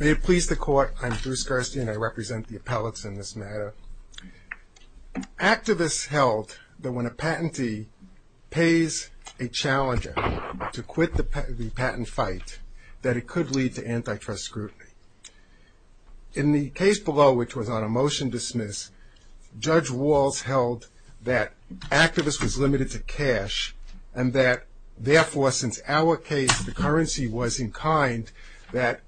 May it please the Court, I'm Drew Skarstein and I represent the appellates in this matter. Activists held that when a patentee pays a challenger to quit the patent fight, that it could lead to antitrust scrutiny. In the case below, which was on a motion dismiss, Judge Walls held that activists was limited to cash, and that therefore, since our case, the currency was in kind, that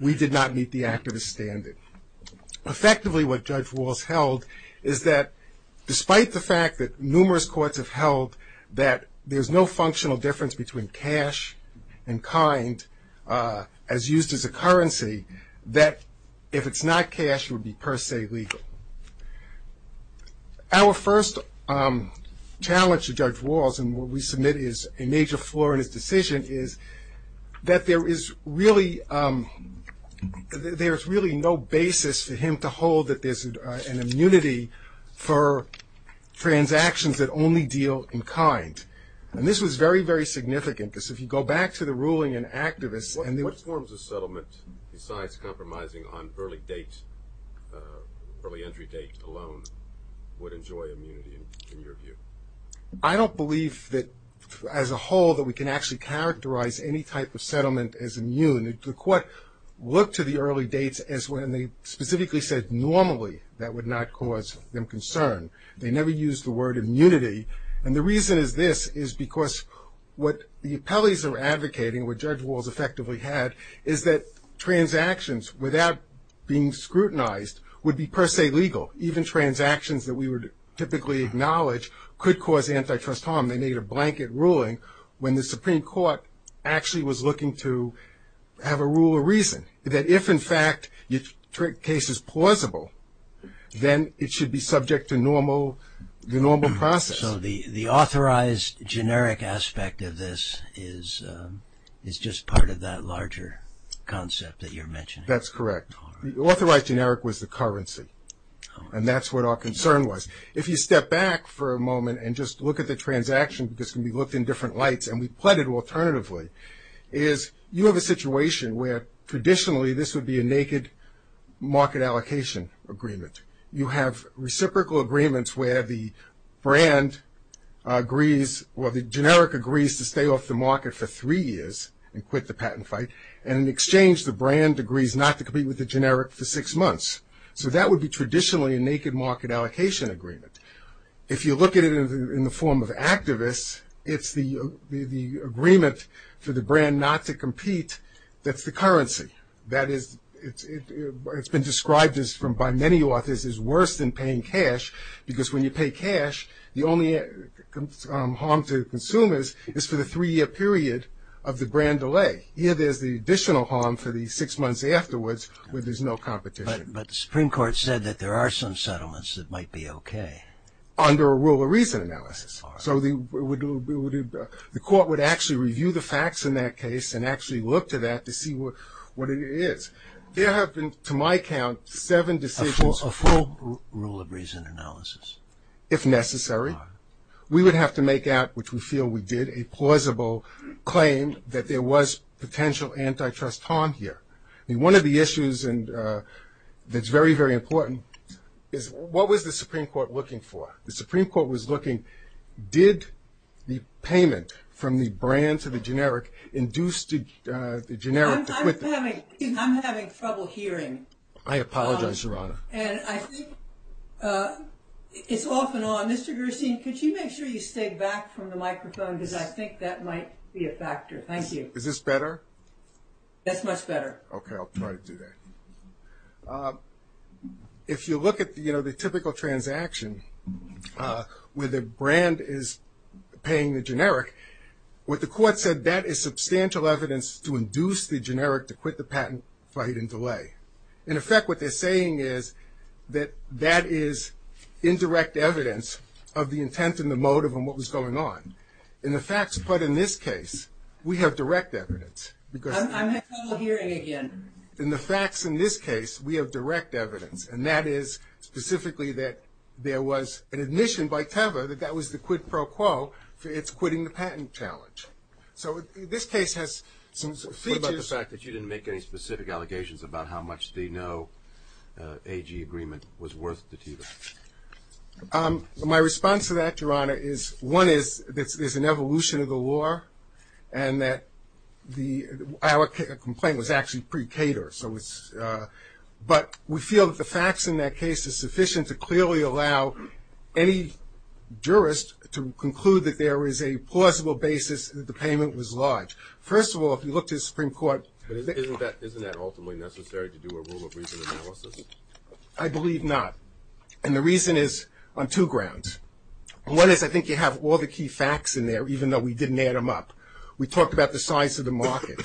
we did not meet the activist standard. Effectively, what Judge Walls held is that despite the fact that numerous courts have held that there's no functional difference between cash and kind as used as a currency, that if it's not cash, it would be per se legal. Our first challenge to Judge Walls, and what we submit is a major flaw in his decision, is that there is really no basis for him to hold that there's an immunity for transactions that only deal in kind. And this was very, very significant, because if you go back to the ruling in Activists... What forms of settlement, besides compromising on early date, early entry date alone, would enjoy immunity in your view? I don't believe that, as a whole, that we can actually characterize any type of settlement as immune. The Court looked to the early dates as when they specifically said normally that would not cause them concern. They never used the word immunity. And the reason is this, is because what the appellees are advocating, what Judge Walls effectively had, is that transactions without being scrutinized would be per se legal. Even transactions that we would typically acknowledge could cause antitrust harm. They made a blanket ruling when the Supreme Court actually was looking to have a rule of reason, that if, in fact, your case is plausible, then it should be subject to the normal process. So the authorized generic aspect of this is just part of that larger concept that you're mentioning? That's correct. The authorized generic was the currency, and that's what our concern was. If you step back for a moment and just look at the transaction, because it can be looked in different lights, and we pled it alternatively, is you have a situation where traditionally this would be a naked market allocation agreement. You have reciprocal agreements where the generic agrees to stay off the market for three years and quit the patent fight, and in exchange the brand agrees not to compete with the generic for six months. So that would be traditionally a naked market allocation agreement. If you look at it in the form of activists, it's the agreement for the brand not to compete that's the currency. That is, it's been described by many authors as worse than paying cash, because when you pay cash, the only harm to consumers is for the three-year period of the brand delay. Here there's the additional harm for the six months afterwards where there's no competition. But the Supreme Court said that there are some settlements that might be okay. Under a rule of reason analysis. So the court would actually review the facts in that case and actually look to that to see what it is. There have been, to my count, seven decisions. A full rule of reason analysis. If necessary. We would have to make out, which we feel we did, a plausible claim that there was potential antitrust harm here. One of the issues that's very, very important is what was the Supreme Court looking for? The Supreme Court was looking, did the payment from the brand to the generic induce the generic to quit? I'm having trouble hearing. I apologize, Your Honor. And I think it's off and on. Mr. Gerstein, could you make sure you stay back from the microphone, because I think that might be a factor. Thank you. Is this better? That's much better. Okay, I'll try to do that. If you look at the typical transaction where the brand is paying the generic, what the court said, that is substantial evidence to induce the generic to quit the patent fight and delay. In effect, what they're saying is that that is indirect evidence of the intent and the motive and what was going on. In the facts put in this case, we have direct evidence. I'm having trouble hearing again. In the facts in this case, we have direct evidence, and that is specifically that there was an admission by Teva that that was the quid pro quo for its quitting the patent challenge. So this case has some features. What about the fact that you didn't make any specific allegations about how much the no AG agreement was worth to Teva? My response to that, Your Honor, is one is that there's an evolution of the law and that our complaint was actually pre-catered, but we feel that the facts in that case are sufficient to clearly allow any jurist to conclude that there is a plausible basis that the payment was large. First of all, if you look to the Supreme Court — But isn't that ultimately necessary to do a rule of reason analysis? I believe not, and the reason is on two grounds. One is I think you have all the key facts in there, even though we didn't add them up. We talked about the size of the market.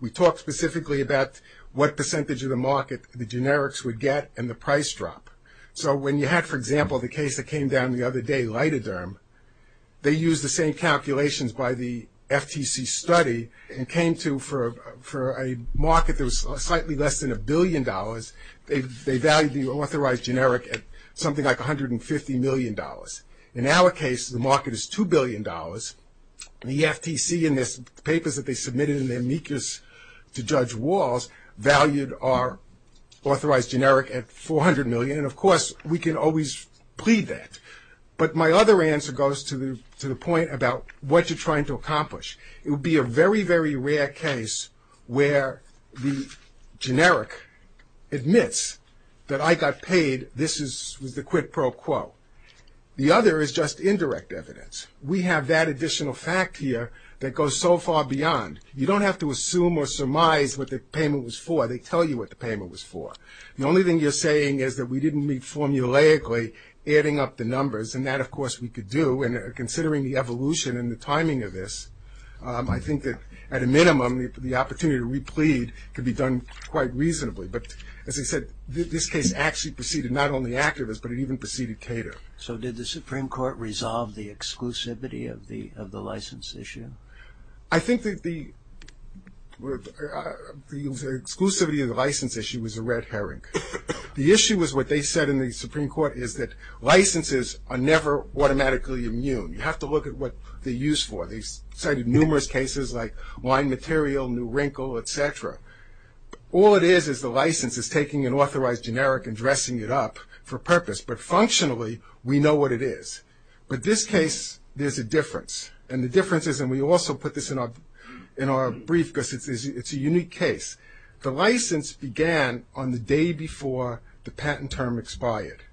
We talked specifically about what percentage of the market the generics would get and the price drop. So when you had, for example, the case that came down the other day, lidoderm, they used the same calculations by the FTC study and came to for a market that was slightly less than a billion dollars, they valued the authorized generic at something like $150 million. In our case, the market is $2 billion, and the FTC in the papers that they submitted in their amicus to Judge Walls valued our authorized generic at $400 million, and of course, we can always plead that. But my other answer goes to the point about what you're trying to accomplish. It would be a very, very rare case where the generic admits that I got paid, this is the quid pro quo. The other is just indirect evidence. We have that additional fact here that goes so far beyond. You don't have to assume or surmise what the payment was for. They tell you what the payment was for. The only thing you're saying is that we didn't meet formulaically adding up the numbers, and that, of course, we could do, and considering the evolution and the timing of this, I think that at a minimum, the opportunity to replead could be done quite reasonably. But as I said, this case actually preceded not only activists, but it even preceded Cater. So did the Supreme Court resolve the exclusivity of the license issue? I think that the exclusivity of the license issue was a red herring. The issue was what they said in the Supreme Court is that licenses are never automatically immune. You have to look at what they're used for. They cited numerous cases like line material, new wrinkle, et cetera. All it is is the license is taking an authorized generic and dressing it up for purpose, but functionally, we know what it is. But this case, there's a difference, and the difference is, and we also put this in our brief because it's a unique case. The license began on the day before the patent term expired.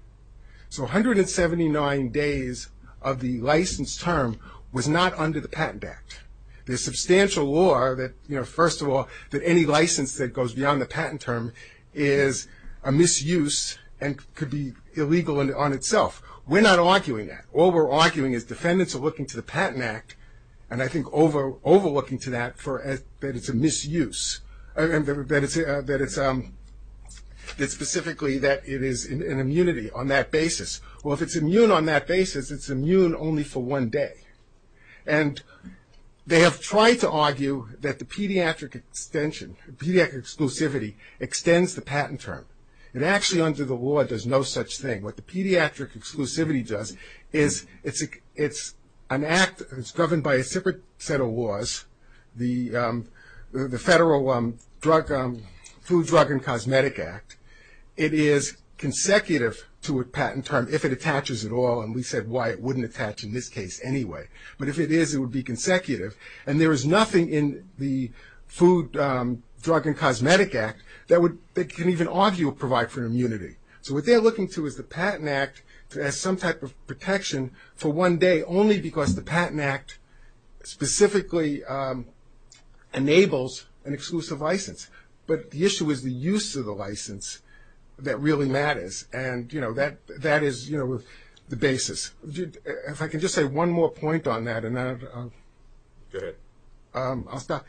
So 179 days of the license term was not under the Patent Act. There's substantial law that, you know, first of all, that any license that goes beyond the patent term is a misuse and could be illegal on itself. We're not arguing that. All we're arguing is defendants are looking to the Patent Act, and I think overlooking to that that it's a misuse, that it's specifically that it is an immunity on that basis. Well, if it's immune on that basis, it's immune only for one day. And they have tried to argue that the pediatric extension, pediatric exclusivity extends the patent term. It actually under the law does no such thing. What the pediatric exclusivity does is it's an act that's governed by a separate set of laws, the Federal Food, Drug, and Cosmetic Act. It is consecutive to a patent term if it attaches at all, and we said why it wouldn't attach in this case anyway. But if it is, it would be consecutive. And there is nothing in the Food, Drug, and Cosmetic Act that can even argue provide for immunity. So what they're looking to is the Patent Act to add some type of protection for one day, only because the Patent Act specifically enables an exclusive license. But the issue is the use of the license that really matters. And, you know, that is, you know, the basis. If I can just say one more point on that, and then I'll stop.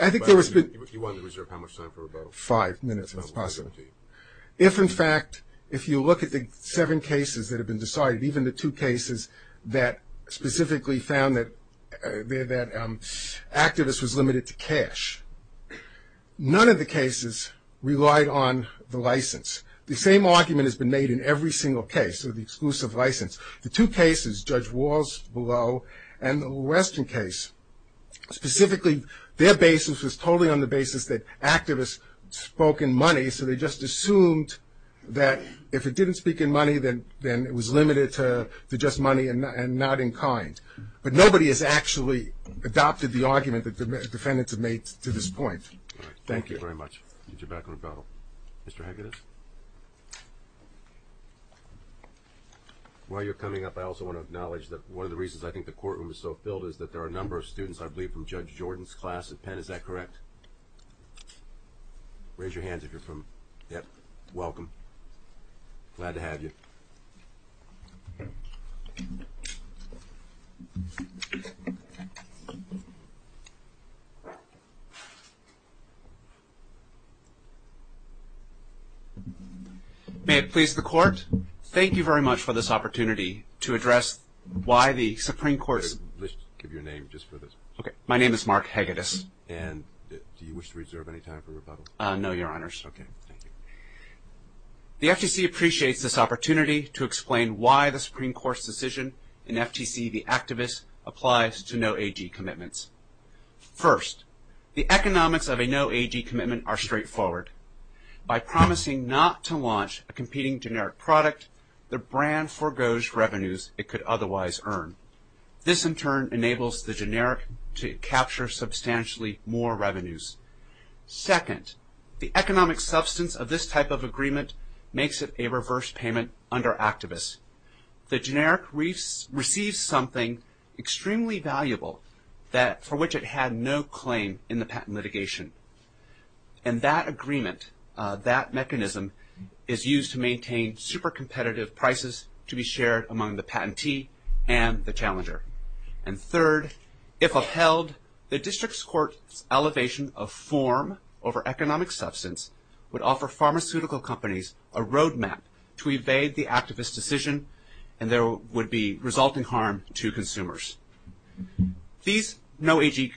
I think there has been – You wanted to reserve how much time for rebuttal? Five minutes, if possible. If, in fact, if you look at the seven cases that have been decided, even the two cases that specifically found that activists was limited to cash, none of the cases relied on the license. The same argument has been made in every single case of the exclusive license. The two cases, Judge Walsh below and the Western case, specifically their basis was totally on the basis that activists spoke in money, so they just assumed that if it didn't speak in money, then it was limited to just money and not in kind. But nobody has actually adopted the argument that the defendants have made to this point. Thank you. All right. Thank you very much. Get your back on rebuttal. Mr. Hegedus? While you're coming up, I also want to acknowledge that one of the reasons I think the courtroom is so filled is that there are a number of students, I believe, from Judge Jordan's class at Penn. Is that correct? Raise your hands if you're from – yep, welcome. Glad to have you. May it please the Court, thank you very much for this opportunity to address why the Supreme Court's – Let's give your name just for this. Okay. My name is Mark Hegedus. And do you wish to reserve any time for rebuttal? No, Your Honors. Okay, thank you. The FTC appreciates this opportunity to explain why the Supreme Court's decision in FTC v. Activists applies to no-AG commitments. First, the economics of a no-AG commitment are straightforward. By promising not to launch a competing generic product, the brand foregoes revenues it could otherwise earn. This, in turn, enables the generic to capture substantially more revenues. Second, the economic substance of this type of agreement makes it a reverse payment under Activists. The generic receives something extremely valuable for which it had no claim in the patent litigation. And that agreement, that mechanism, is used to maintain super-competitive prices to be shared among the patentee and the challenger. And third, if upheld, the District Court's elevation of form over economic substance would offer pharmaceutical companies a roadmap to evade the Activists' decision and there would be resulting harm to consumers. These no-AG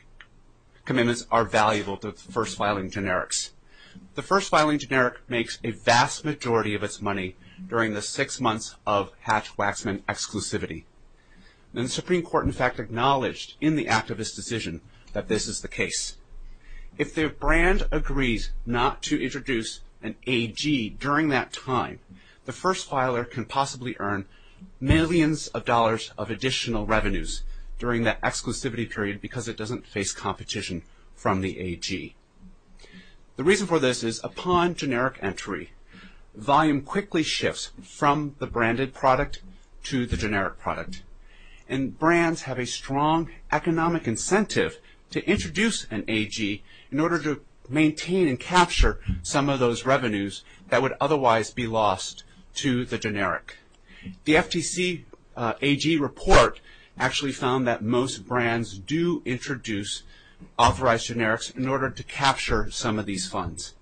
commitments are valuable to first-filing generics. The first-filing generic makes a vast majority of its money during the six months of Hatch-Waxman exclusivity. And the Supreme Court, in fact, acknowledged in the Activists' decision that this is the case. If the brand agrees not to introduce an AG during that time, the first-filer can possibly earn millions of dollars of additional revenues during that exclusivity period because it doesn't face competition from the AG. The reason for this is upon generic entry, volume quickly shifts from the branded product to the generic product. And brands have a strong economic incentive to introduce an AG in order to maintain and capture some of those revenues that would otherwise be lost to the generic. The FTC AG report actually found that most brands do introduce authorized generics in order to capture some of these funds.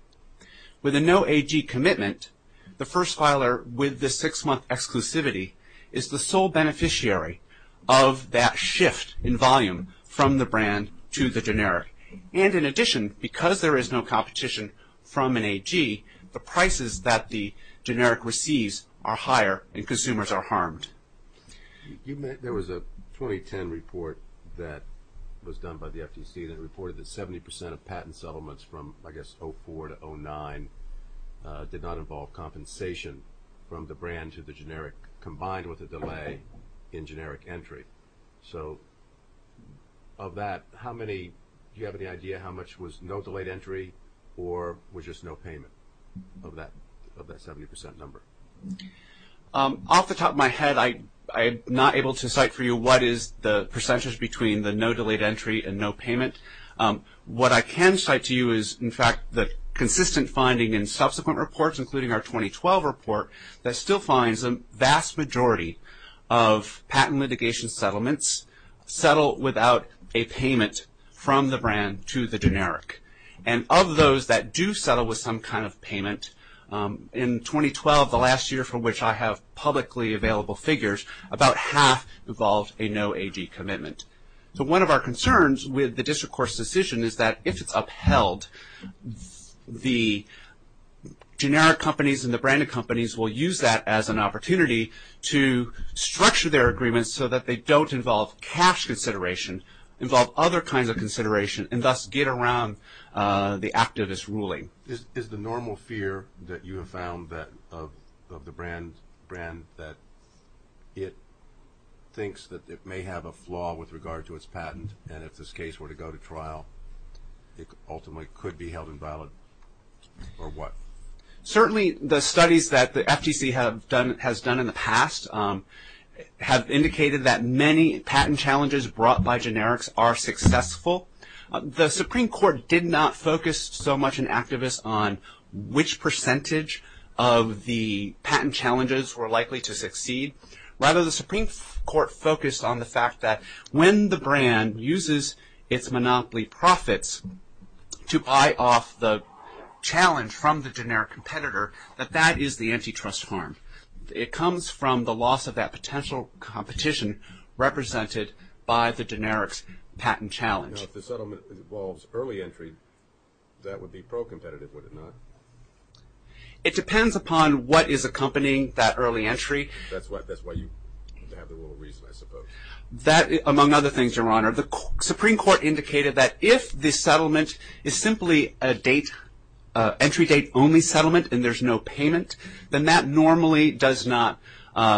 With a no-AG commitment, the first-filer with the six-month exclusivity is the sole beneficiary of that shift in volume from the brand to the generic. And in addition, because there is no competition from an AG, the prices that the generic receives are higher and consumers are harmed. There was a 2010 report that was done by the FTC that reported that 70 percent of patent settlements from, I guess, 2004 to 2009, did not involve compensation from the brand to the generic, combined with a delay in generic entry. So of that, do you have any idea how much was no delayed entry or was just no payment of that 70 percent number? Off the top of my head, I'm not able to cite for you what is the percentage between the no delayed entry and no payment. What I can cite to you is, in fact, the consistent finding in subsequent reports, including our 2012 report, that still finds a vast majority of patent litigation settlements settle without a payment from the brand to the generic. And of those that do settle with some kind of payment, in 2012, the last year for which I have publicly available figures, about half involved a no AG commitment. So one of our concerns with the district court's decision is that, if it's upheld, the generic companies and the branded companies will use that as an opportunity to structure their agreements so that they don't involve cash consideration, involve other kinds of consideration, and thus get around the activist ruling. Is the normal fear that you have found of the brand that it thinks that it may have a flaw with regard to its patent and if this case were to go to trial, it ultimately could be held invalid, or what? Certainly the studies that the FTC has done in the past have indicated that many patent challenges brought by generics are successful. The Supreme Court did not focus so much in activists on which percentage of the patent challenges were likely to succeed. Rather, the Supreme Court focused on the fact that when the brand uses its monopoly profits to buy off the challenge from the generic competitor, that that is the antitrust harm. It comes from the loss of that potential competition represented by the generics patent challenge. If the settlement involves early entry, that would be pro-competitive, would it not? It depends upon what is accompanying that early entry. That's why you have the rule of reason, I suppose. Among other things, Your Honor, the Supreme Court indicated that if the settlement is simply an entry date only settlement and there's no payment, then that normally does not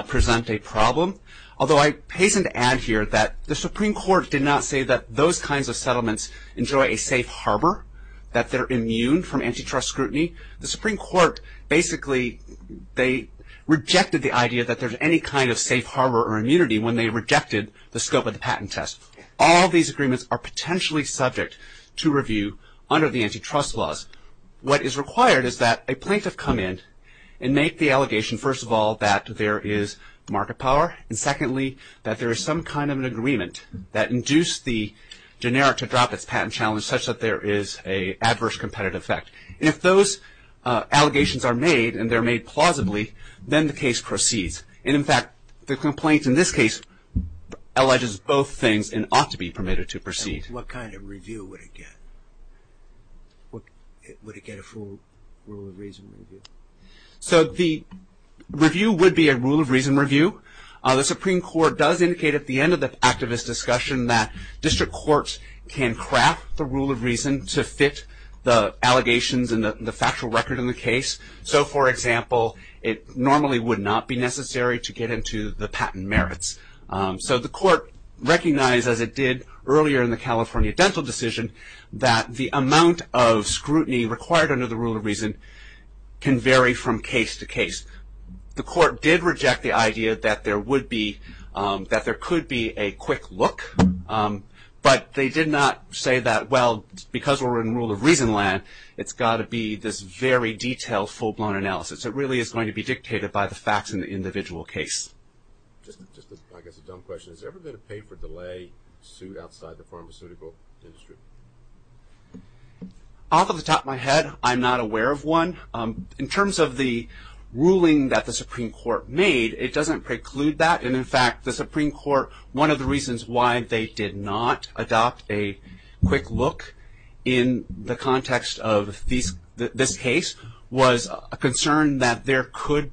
present a problem. Although I hasten to add here that the Supreme Court did not say that those kinds of settlements enjoy a safe harbor, that they're immune from antitrust scrutiny. The Supreme Court basically rejected the idea that there's any kind of safe harbor or immunity when they rejected the scope of the patent test. All these agreements are potentially subject to review under the antitrust laws. What is required is that a plaintiff come in and make the allegation, first of all, that there is market power, and secondly, that there is some kind of an agreement that induced the generic to drop its patent challenge such that there is an adverse competitive effect. If those allegations are made and they're made plausibly, then the case proceeds. In fact, the complaint in this case alleges both things and ought to be permitted to proceed. What kind of review would it get? Would it get a full rule of reason review? The review would be a rule of reason review. The Supreme Court does indicate at the end of the activist discussion that district courts can craft the rule of reason to fit the allegations and the factual record in the case. For example, it normally would not be necessary to get into the patent merits. The court recognized, as it did earlier in the California dental decision, that the amount of scrutiny required under the rule of reason can vary from case to case. The court did reject the idea that there could be a quick look, but they did not say that, well, because we're in rule of reason land, it's got to be this very detailed, full-blown analysis. It really is going to be dictated by the facts in the individual case. Just, I guess, a dumb question. Has there ever been a pay-for-delay suit outside the pharmaceutical industry? Off the top of my head, I'm not aware of one. In terms of the ruling that the Supreme Court made, it doesn't preclude that. In fact, the Supreme Court, one of the reasons why they did not adopt a quick look in the context of this case, was a concern that there could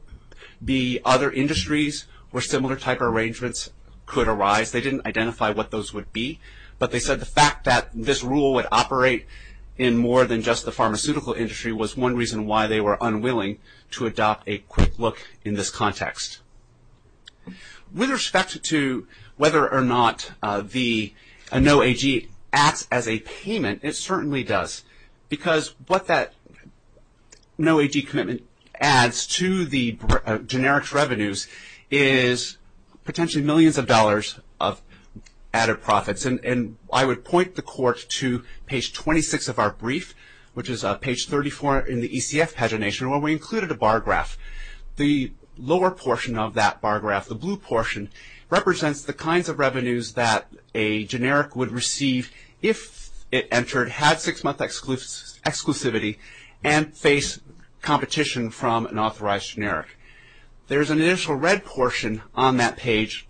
be other industries where similar type of arrangements could arise. They didn't identify what those would be, but they said the fact that this rule would operate in more than just the pharmaceutical industry was one reason why they were unwilling to adopt a quick look in this context. With respect to whether or not the NOAAG acts as a payment, it certainly does, because what that NOAAG commitment adds to the generic revenues is potentially millions of dollars of added profits. I would point the Court to page 26 of our brief, which is page 34 in the ECF pagination, where we included a bar graph. The lower portion of that bar graph, the blue portion, represents the kinds of revenues that a generic would receive if it entered, had six-month exclusivity, and faced competition from an authorized generic. There is an initial red portion on that page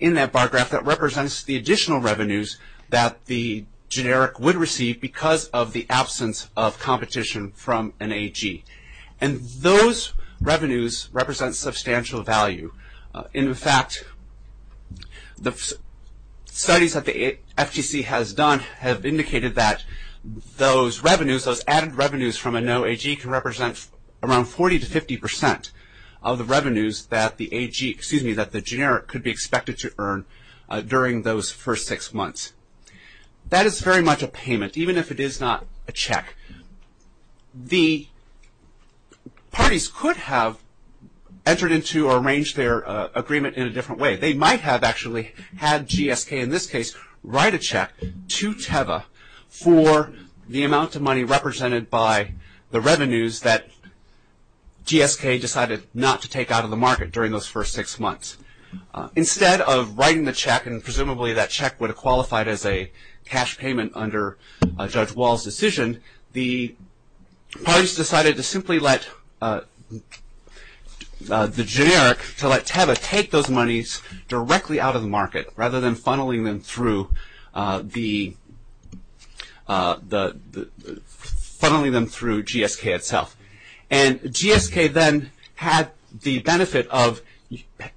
in that bar graph that represents the additional revenues that the generic would receive because of the absence of competition from an AG. And those revenues represent substantial value. In fact, the studies that the FTC has done have indicated that those revenues, those added revenues from a NOAAG can represent around 40% to 50% of the revenues that the AG, excuse me, that the generic could be expected to earn during those first six months. That is very much a payment, even if it is not a check. The parties could have entered into or arranged their agreement in a different way. They might have actually had GSK in this case write a check to TEVA for the amount of money represented by the revenues that GSK decided not to take out of the market during those first six months. Instead of writing the check, and presumably that check would have qualified as a cash payment under Judge Wall's decision, the parties decided to simply let the generic, to let TEVA take those monies directly out of the market rather than funneling them through GSK itself. And GSK then had the benefit of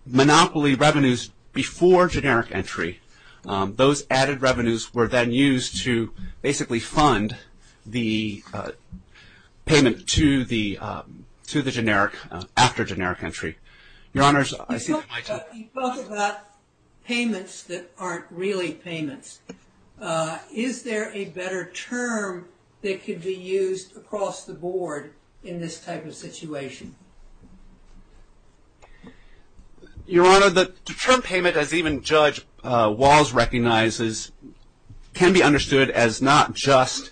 monopoly revenues before generic entry. Those added revenues were then used to basically fund the payment to the generic after generic entry. Your Honors, I see the mic. You talk about payments that aren't really payments. Is there a better term that could be used across the board in this type of situation? Your Honor, the term payment as even Judge Wall's recognizes can be understood as not just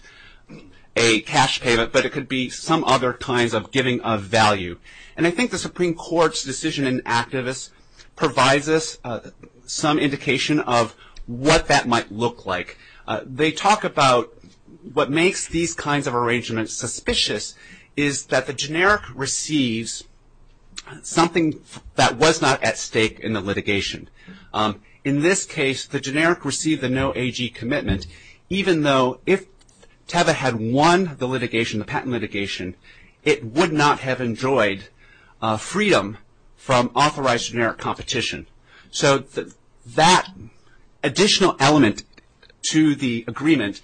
a cash payment, but it could be some other kinds of giving of value. And I think the Supreme Court's decision in activists provides us some indication of what that might look like. They talk about what makes these kinds of arrangements suspicious is that the generic receives something that was not at stake in the litigation. In this case, the generic received the no AG commitment, even though if TEVA had won the litigation, the patent litigation, it would not have enjoyed freedom from authorized generic competition. So that additional element to the agreement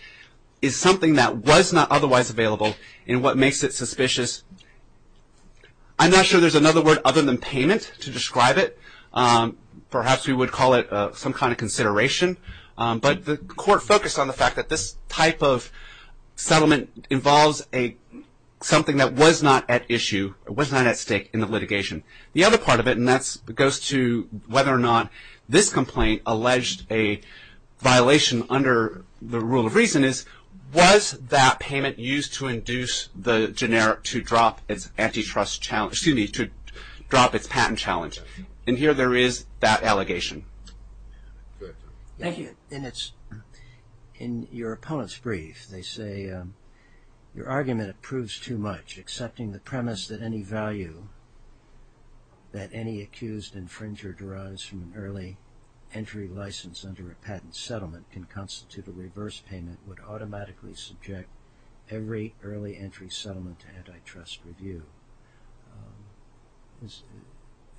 is something that was not otherwise available and what makes it suspicious. I'm not sure there's another word other than payment to describe it. Perhaps we would call it some kind of consideration. But the Court focused on the fact that this type of settlement involves something that was not at issue, was not at stake in the litigation. The other part of it, and that goes to whether or not this complaint alleged a violation under the rule of reason, is was that payment used to induce the generic to drop its patent challenge? And here there is that allegation. Thank you. In your opponent's brief, they say your argument proves too much, accepting the premise that any value that any accused infringer derives from an early entry license under a patent settlement can constitute a reverse payment would automatically subject every early entry settlement to antitrust review.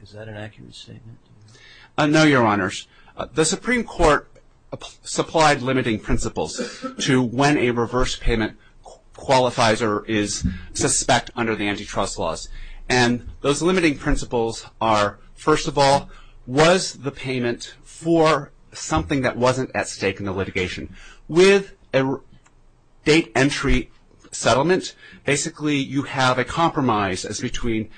Is that an accurate statement? No, Your Honors. The Supreme Court supplied limiting principles to when a reverse payment qualifies or is suspect under the antitrust laws. And those limiting principles are, first of all, was the payment for something that wasn't at stake in the litigation? With a date entry settlement, basically you have a compromise as between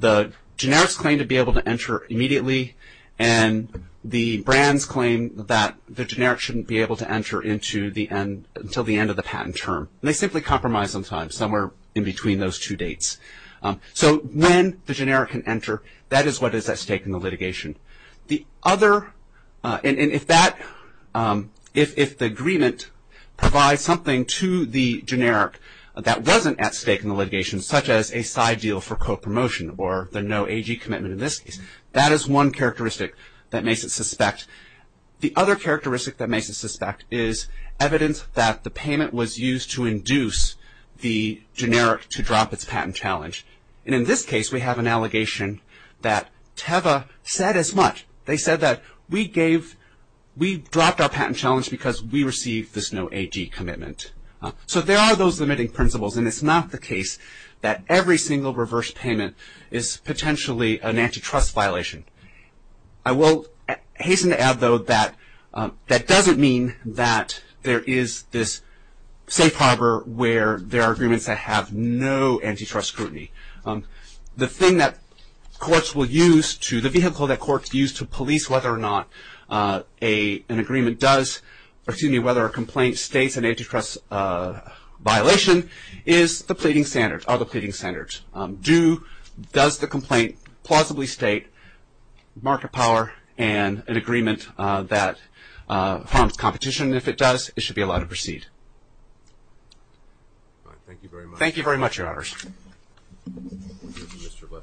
the generic's claim to be able to enter immediately and the brand's claim that the generic shouldn't be able to enter until the end of the patent term. And they simply compromise sometimes somewhere in between those two dates. So when the generic can enter, that is what is at stake in the litigation. And if the agreement provides something to the generic that wasn't at stake in the litigation, such as a side deal for co-promotion or the no AG commitment in this case, that is one characteristic that makes it suspect. The other characteristic that makes it suspect is evidence that the payment was used to induce the generic to drop its patent challenge. And in this case, we have an allegation that Teva said as much. They said that we dropped our patent challenge because we received this no AG commitment. So there are those limiting principles, and it's not the case that every single reverse payment is potentially an antitrust violation. I will hasten to add, though, that that doesn't mean that there is this safe harbor where there are agreements that have no antitrust scrutiny. The thing that courts will use to, the vehicle that courts use to police whether or not an agreement does, or excuse me, whether a complaint states an antitrust violation is the pleading standards, are the pleading standards. Does the complaint plausibly state market power and an agreement that harms competition? If it does, it should be allowed to proceed. Thank you very much. Thank you very much, Your Honors. Here's Mr.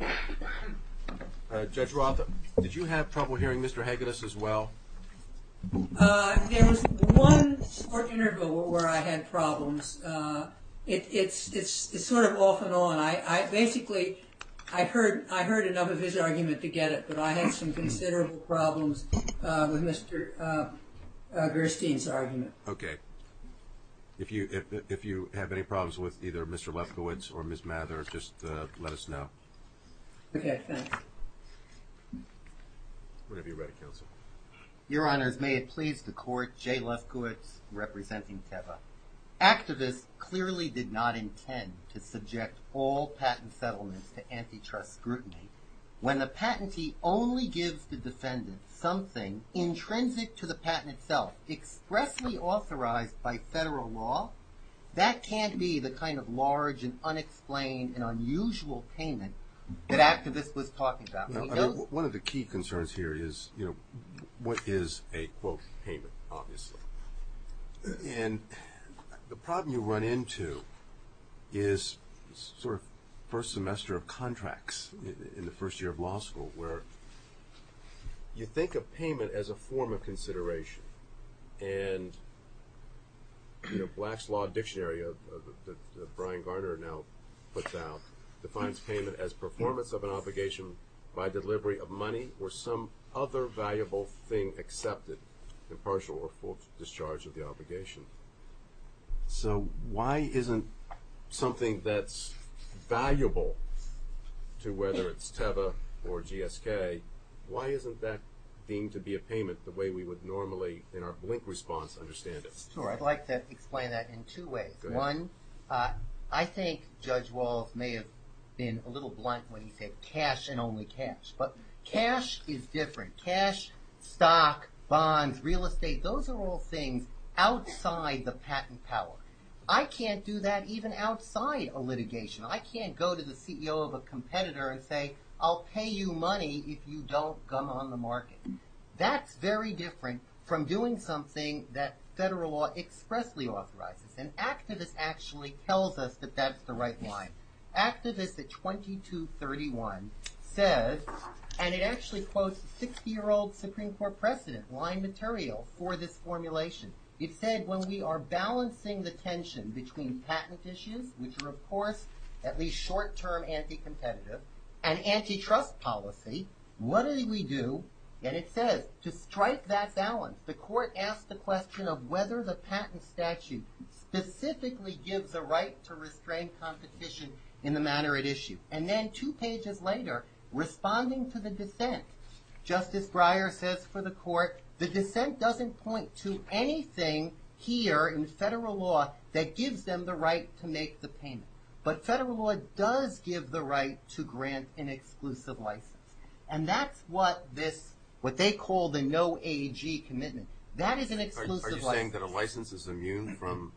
Lefkowitz. Judge Roth, did you have trouble hearing Mr. Hagedus as well? There was one short interval where I had problems. It's sort of off and on. Basically, I heard enough of his argument to get it, If you have any problems with either Mr. Lefkowitz or Ms. Mather, just let us know. Okay, thanks. Whatever you're ready, Counsel. Your Honors, may it please the Court, Jay Lefkowitz representing TEVA. Activists clearly did not intend to subject all patent settlements to antitrust scrutiny when the patentee only gives the defendant something intrinsic to the patent itself, expressly authorized by federal law. That can't be the kind of large and unexplained and unusual payment that activists was talking about. One of the key concerns here is what is a, quote, payment, obviously. And the problem you run into is sort of first semester of contracts in the first year of law school, where you think of payment as a form of consideration. And Black's Law Dictionary, that Brian Garner now puts out, defines payment as performance of an obligation by delivery of money or some other valuable thing accepted in partial or full discharge of the obligation. So why isn't something that's valuable to whether it's TEVA or GSK, why isn't that deemed to be a payment the way we would normally in our blink response understand it? Sure, I'd like to explain that in two ways. One, I think Judge Walz may have been a little blunt when he said cash and only cash. But cash is different. Cash, stock, bonds, real estate, those are all things outside the patent power. I can't do that even outside a litigation. I can't go to the CEO of a competitor and say, I'll pay you money if you don't gum on the market. That's very different from doing something that federal law expressly authorizes. And activists actually tells us that that's the right line. Activists at 2231 says, and it actually quotes 60-year-old Supreme Court precedent line material for this formulation. It said when we are balancing the tension between patent issues, which are of course at least short-term anti-competitive, and antitrust policy, what do we do? And it says to strike that balance, the court asked the question of whether the patent statute specifically gives a right to restrain competition in the matter at issue. And then two pages later, responding to the dissent, Justice Breyer says for the court, the dissent doesn't point to anything here in federal law that gives them the right to make the payment. But federal law does give the right to grant an exclusive license. And that's what this, what they call the no AG commitment. That is an exclusive license. Are you saying that a license is immune from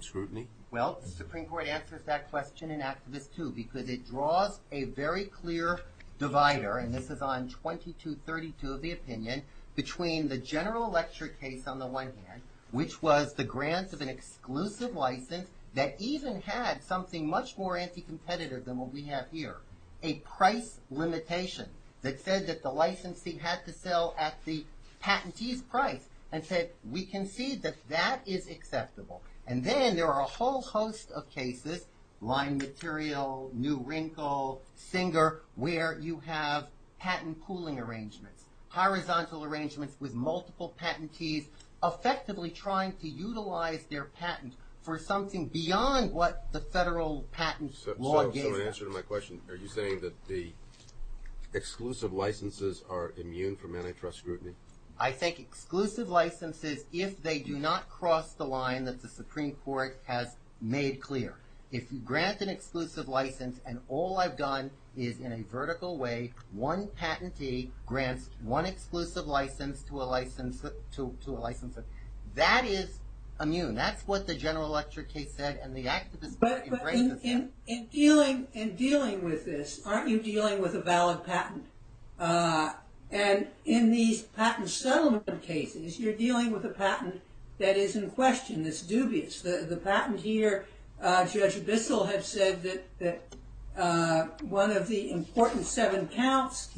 scrutiny? Well, the Supreme Court answers that question, and activists too, because it draws a very clear divider, and this is on 2232 of the opinion, between the general lecture case on the one hand, which was the grants of an exclusive license that even had something much more anti-competitive than what we have here. A price limitation that said that the licensee had to sell at the patentee's price, and said we concede that that is acceptable. And then there are a whole host of cases, Lime Material, New Wrinkle, Singer, where you have patent pooling arrangements, horizontal arrangements with multiple patentees, effectively trying to utilize their patent for something beyond what the federal patent law gives them. So in answer to my question, are you saying that the exclusive licenses are immune from antitrust scrutiny? I think exclusive licenses, if they do not cross the line that the Supreme Court has made clear. If you grant an exclusive license, and all I've done is in a vertical way, one patentee grants one exclusive license to a licensee, that is immune. So that's what the general lecture case said, and the activist party raises that. In dealing with this, aren't you dealing with a valid patent? And in these patent settlement cases, you're dealing with a patent that is in question, that's dubious. The patent here, Judge Bissell has said that one of the important seven counts,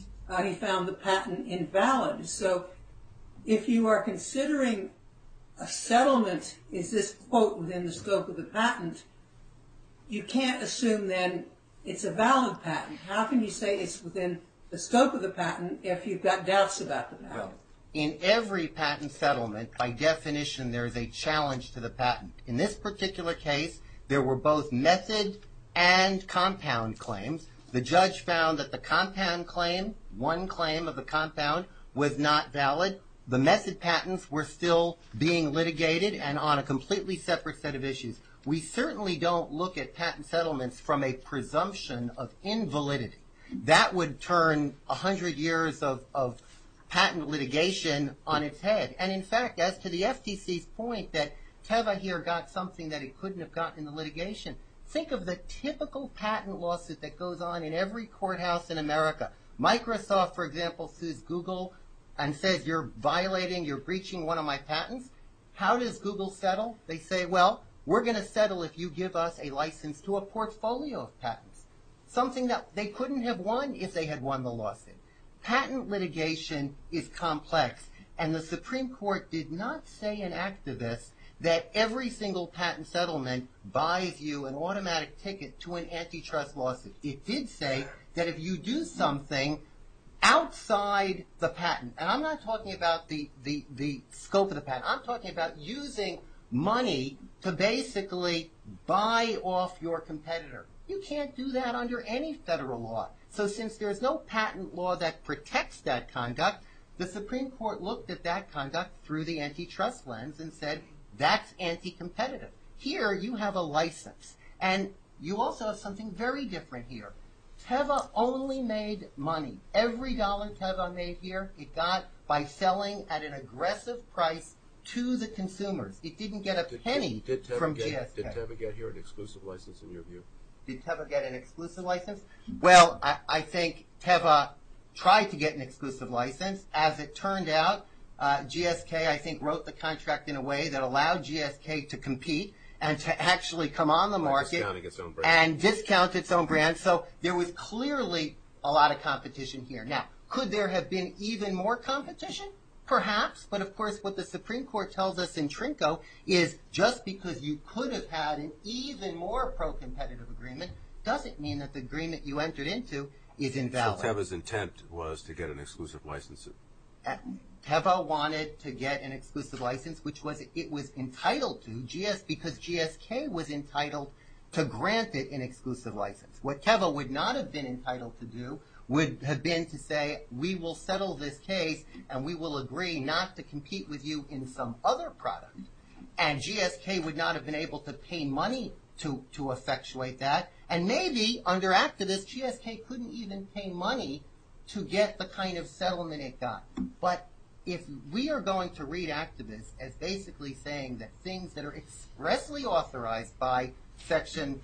he found the patent invalid. So if you are considering a settlement, is this quote within the scope of the patent, you can't assume then it's a valid patent. How can you say it's within the scope of the patent if you've got doubts about the patent? In every patent settlement, by definition, there is a challenge to the patent. In this particular case, there were both method and compound claims. The judge found that the compound claim, one claim of the compound, was not valid. The method patents were still being litigated and on a completely separate set of issues. We certainly don't look at patent settlements from a presumption of invalidity. That would turn 100 years of patent litigation on its head. And in fact, as to the FTC's point that Tevahir got something that he couldn't have gotten in the litigation, think of the typical patent lawsuit that goes on in every courthouse in America. Microsoft, for example, sues Google and says you're violating, you're breaching one of my patents. How does Google settle? They say, well, we're going to settle if you give us a license to a portfolio of patents. Something that they couldn't have won if they had won the lawsuit. Patent litigation is complex. And the Supreme Court did not say in activist that every single patent settlement buys you an automatic ticket to an antitrust lawsuit. It did say that if you do something outside the patent, and I'm not talking about the scope of the patent, I'm talking about using money to basically buy off your competitor. You can't do that under any federal law. So since there is no patent law that protects that conduct, the Supreme Court looked at that conduct through the antitrust lens and said that's anti-competitive. Here you have a license. And you also have something very different here. Tevah only made money. Every dollar Tevah made here it got by selling at an aggressive price to the consumers. It didn't get a penny from GSK. Did Tevah get here an exclusive license in your view? Did Tevah get an exclusive license? Well, I think Tevah tried to get an exclusive license. As it turned out, GSK I think wrote the contract in a way that allowed GSK to compete and to actually come on the market and discount its own brand. So there was clearly a lot of competition here. Now, could there have been even more competition? Perhaps. But, of course, what the Supreme Court tells us in Trinco is just because you could have had an even more pro-competitive agreement doesn't mean that the agreement you entered into is invalid. So Tevah's intent was to get an exclusive license? Tevah wanted to get an exclusive license, which it was entitled to, because GSK was entitled to grant it an exclusive license. What Tevah would not have been entitled to do would have been to say we will settle this case and we will agree not to compete with you in some other product. And GSK would not have been able to pay money to effectuate that. And maybe under activists, GSK couldn't even pay money to get the kind of settlement it got. But if we are going to read activists as basically saying that things that are expressly authorized by Section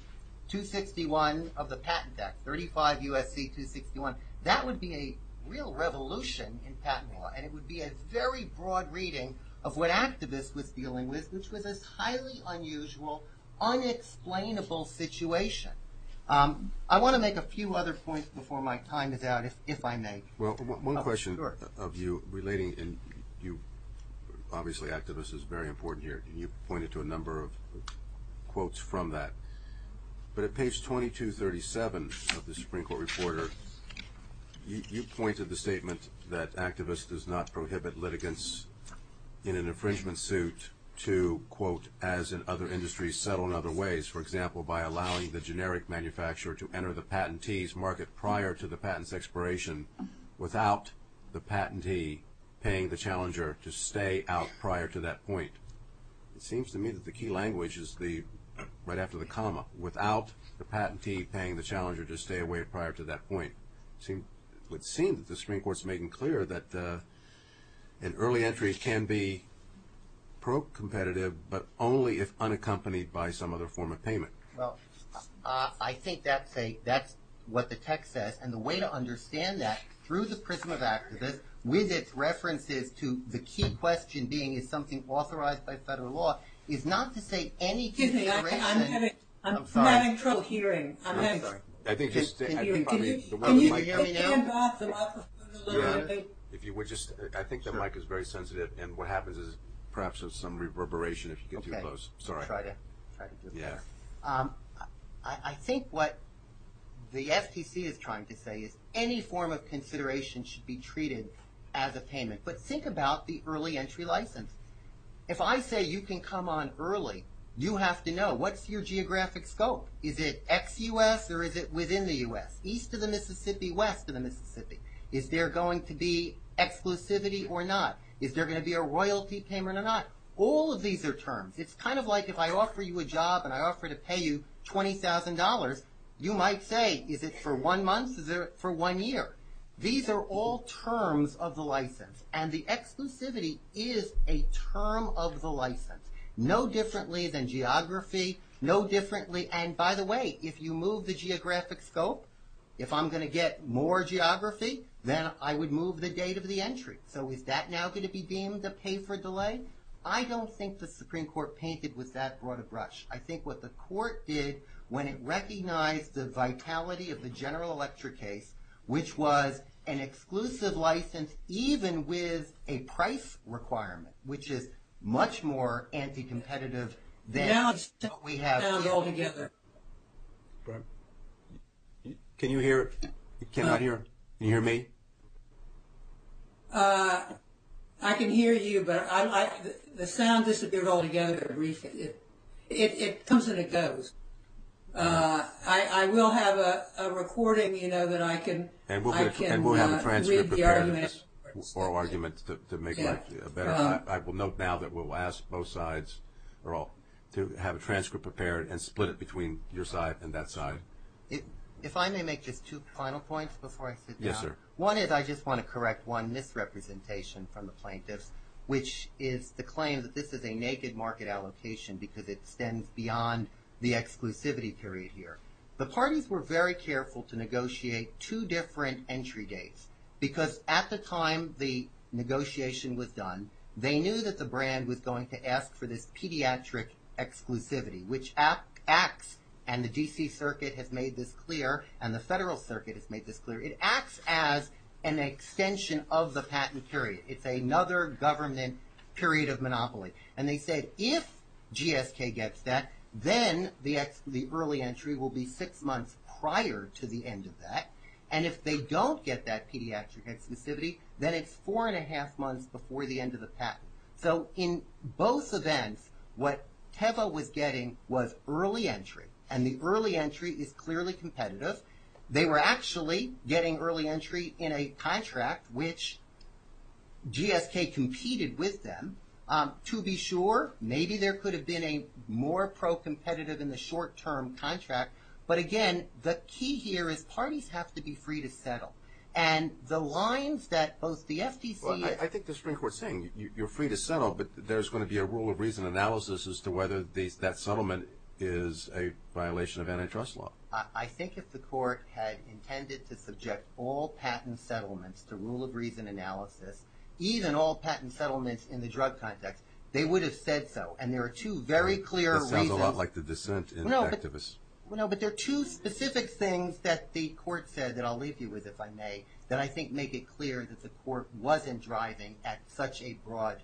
261 of the Patent Act, 35 U.S.C. 261, that would be a real revolution in patent law. And it would be a very broad reading of what activists was dealing with, which was this highly unusual, unexplainable situation. I want to make a few other points before my time is out, if I may. Well, one question of you relating, and obviously activists is very important here. You pointed to a number of quotes from that. But at page 2237 of the Supreme Court Reporter, you pointed the statement that activists does not prohibit litigants in an infringement suit to, quote, as in other industries, settle in other ways, for example, by allowing the generic manufacturer to enter the patentee's market prior to the patent's expiration without the patentee paying the challenger to stay out prior to that point. It seems to me that the key language is the, right after the comma, without the patentee paying the challenger to stay away prior to that point. It would seem that the Supreme Court is making clear that an early entry can be pro-competitive, but only if unaccompanied by some other form of payment. Well, I think that's what the text says. And the way to understand that, through the prism of activists, with its references to the key question being is something authorized by federal law, is not to say any consideration. Excuse me, I'm having trouble hearing. I'm sorry. Can you hear me now? I think the mic is very sensitive. And what happens is perhaps there's some reverberation if you get too close. Okay. Sorry. I'll try to do this. Yeah. I think what the FTC is trying to say is any form of consideration should be treated as a payment. But think about the early entry license. If I say you can come on early, you have to know, what's your geographic scope? Is it ex-U.S. or is it within the U.S.? East of the Mississippi, west of the Mississippi. Is there going to be exclusivity or not? Is there going to be a royalty payment or not? All of these are terms. It's kind of like if I offer you a job and I offer to pay you $20,000, you might say is it for one month, is it for one year? These are all terms of the license. And the exclusivity is a term of the license. No differently than geography, no differently. And, by the way, if you move the geographic scope, if I'm going to get more geography, then I would move the date of the entry. So is that now going to be deemed a pay for delay? I don't think the Supreme Court painted with that broad a brush. I think what the court did when it recognized the vitality of the General Electric case, which was an exclusive license even with a price requirement, which is much more anti-competitive than what we have now altogether. Can you hear? I cannot hear. Can you hear me? I can hear you, but the sound disappeared altogether. It comes and it goes. I will have a recording, you know, that I can read the argument. And we'll have a transcript prepared of this oral argument to make life better. I will note now that we'll ask both sides to have a transcript prepared and split it between your side and that side. If I may make just two final points before I sit down. One is I just want to correct one misrepresentation from the plaintiffs, which is the claim that this is a naked market allocation because it extends beyond the exclusivity period here. The parties were very careful to negotiate two different entry dates because at the time the negotiation was done, they knew that the brand was going to ask for this pediatric exclusivity, which acts, and the D.C. Circuit has made this clear, and the Federal Circuit has made this clear. It acts as an extension of the patent period. It's another government period of monopoly. And they said if GSK gets that, then the early entry will be six months prior to the end of that. And if they don't get that pediatric exclusivity, then it's four and a half months before the end of the patent. So in both events, what Teva was getting was early entry, and the early entry is clearly competitive. They were actually getting early entry in a contract, which GSK competed with them. To be sure, maybe there could have been a more pro-competitive in the short-term contract. But again, the key here is parties have to be free to settle. And the lines that both the FTC and— Well, I think the Supreme Court's saying you're free to settle, but there's going to be a rule of reason analysis as to whether that settlement is a violation of antitrust law. I think if the court had intended to subject all patent settlements to rule of reason analysis, even all patent settlements in the drug context, they would have said so. And there are two very clear reasons— That sounds a lot like the dissent in Teva's— No, but there are two specific things that the court said that I'll leave you with, if I may, that I think make it clear that the court wasn't driving at such a broad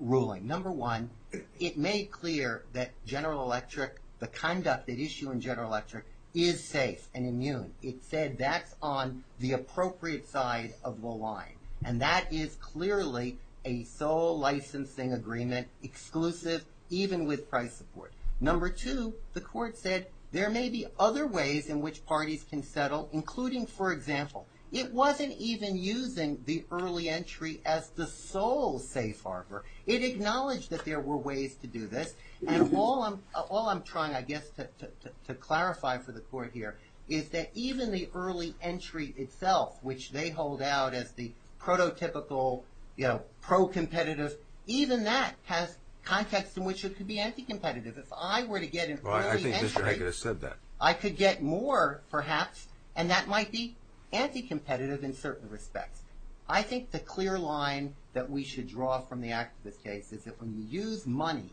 ruling. Number one, it made clear that General Electric, the conduct at issue in General Electric, is safe and immune. It said that's on the appropriate side of the line. And that is clearly a sole licensing agreement, exclusive even with price support. Number two, the court said there may be other ways in which parties can settle, including, for example, it wasn't even using the early entry as the sole safe harbor. It acknowledged that there were ways to do this. And all I'm trying, I guess, to clarify for the court here is that even the early entry itself, which they hold out as the prototypical, you know, pro-competitive, even that has context in which it could be anti-competitive. If I were to get an early entry— Well, I think Mr. Haggis said that. I could get more, perhaps, and that might be anti-competitive in certain respects. I think the clear line that we should draw from the activist case is that when you use money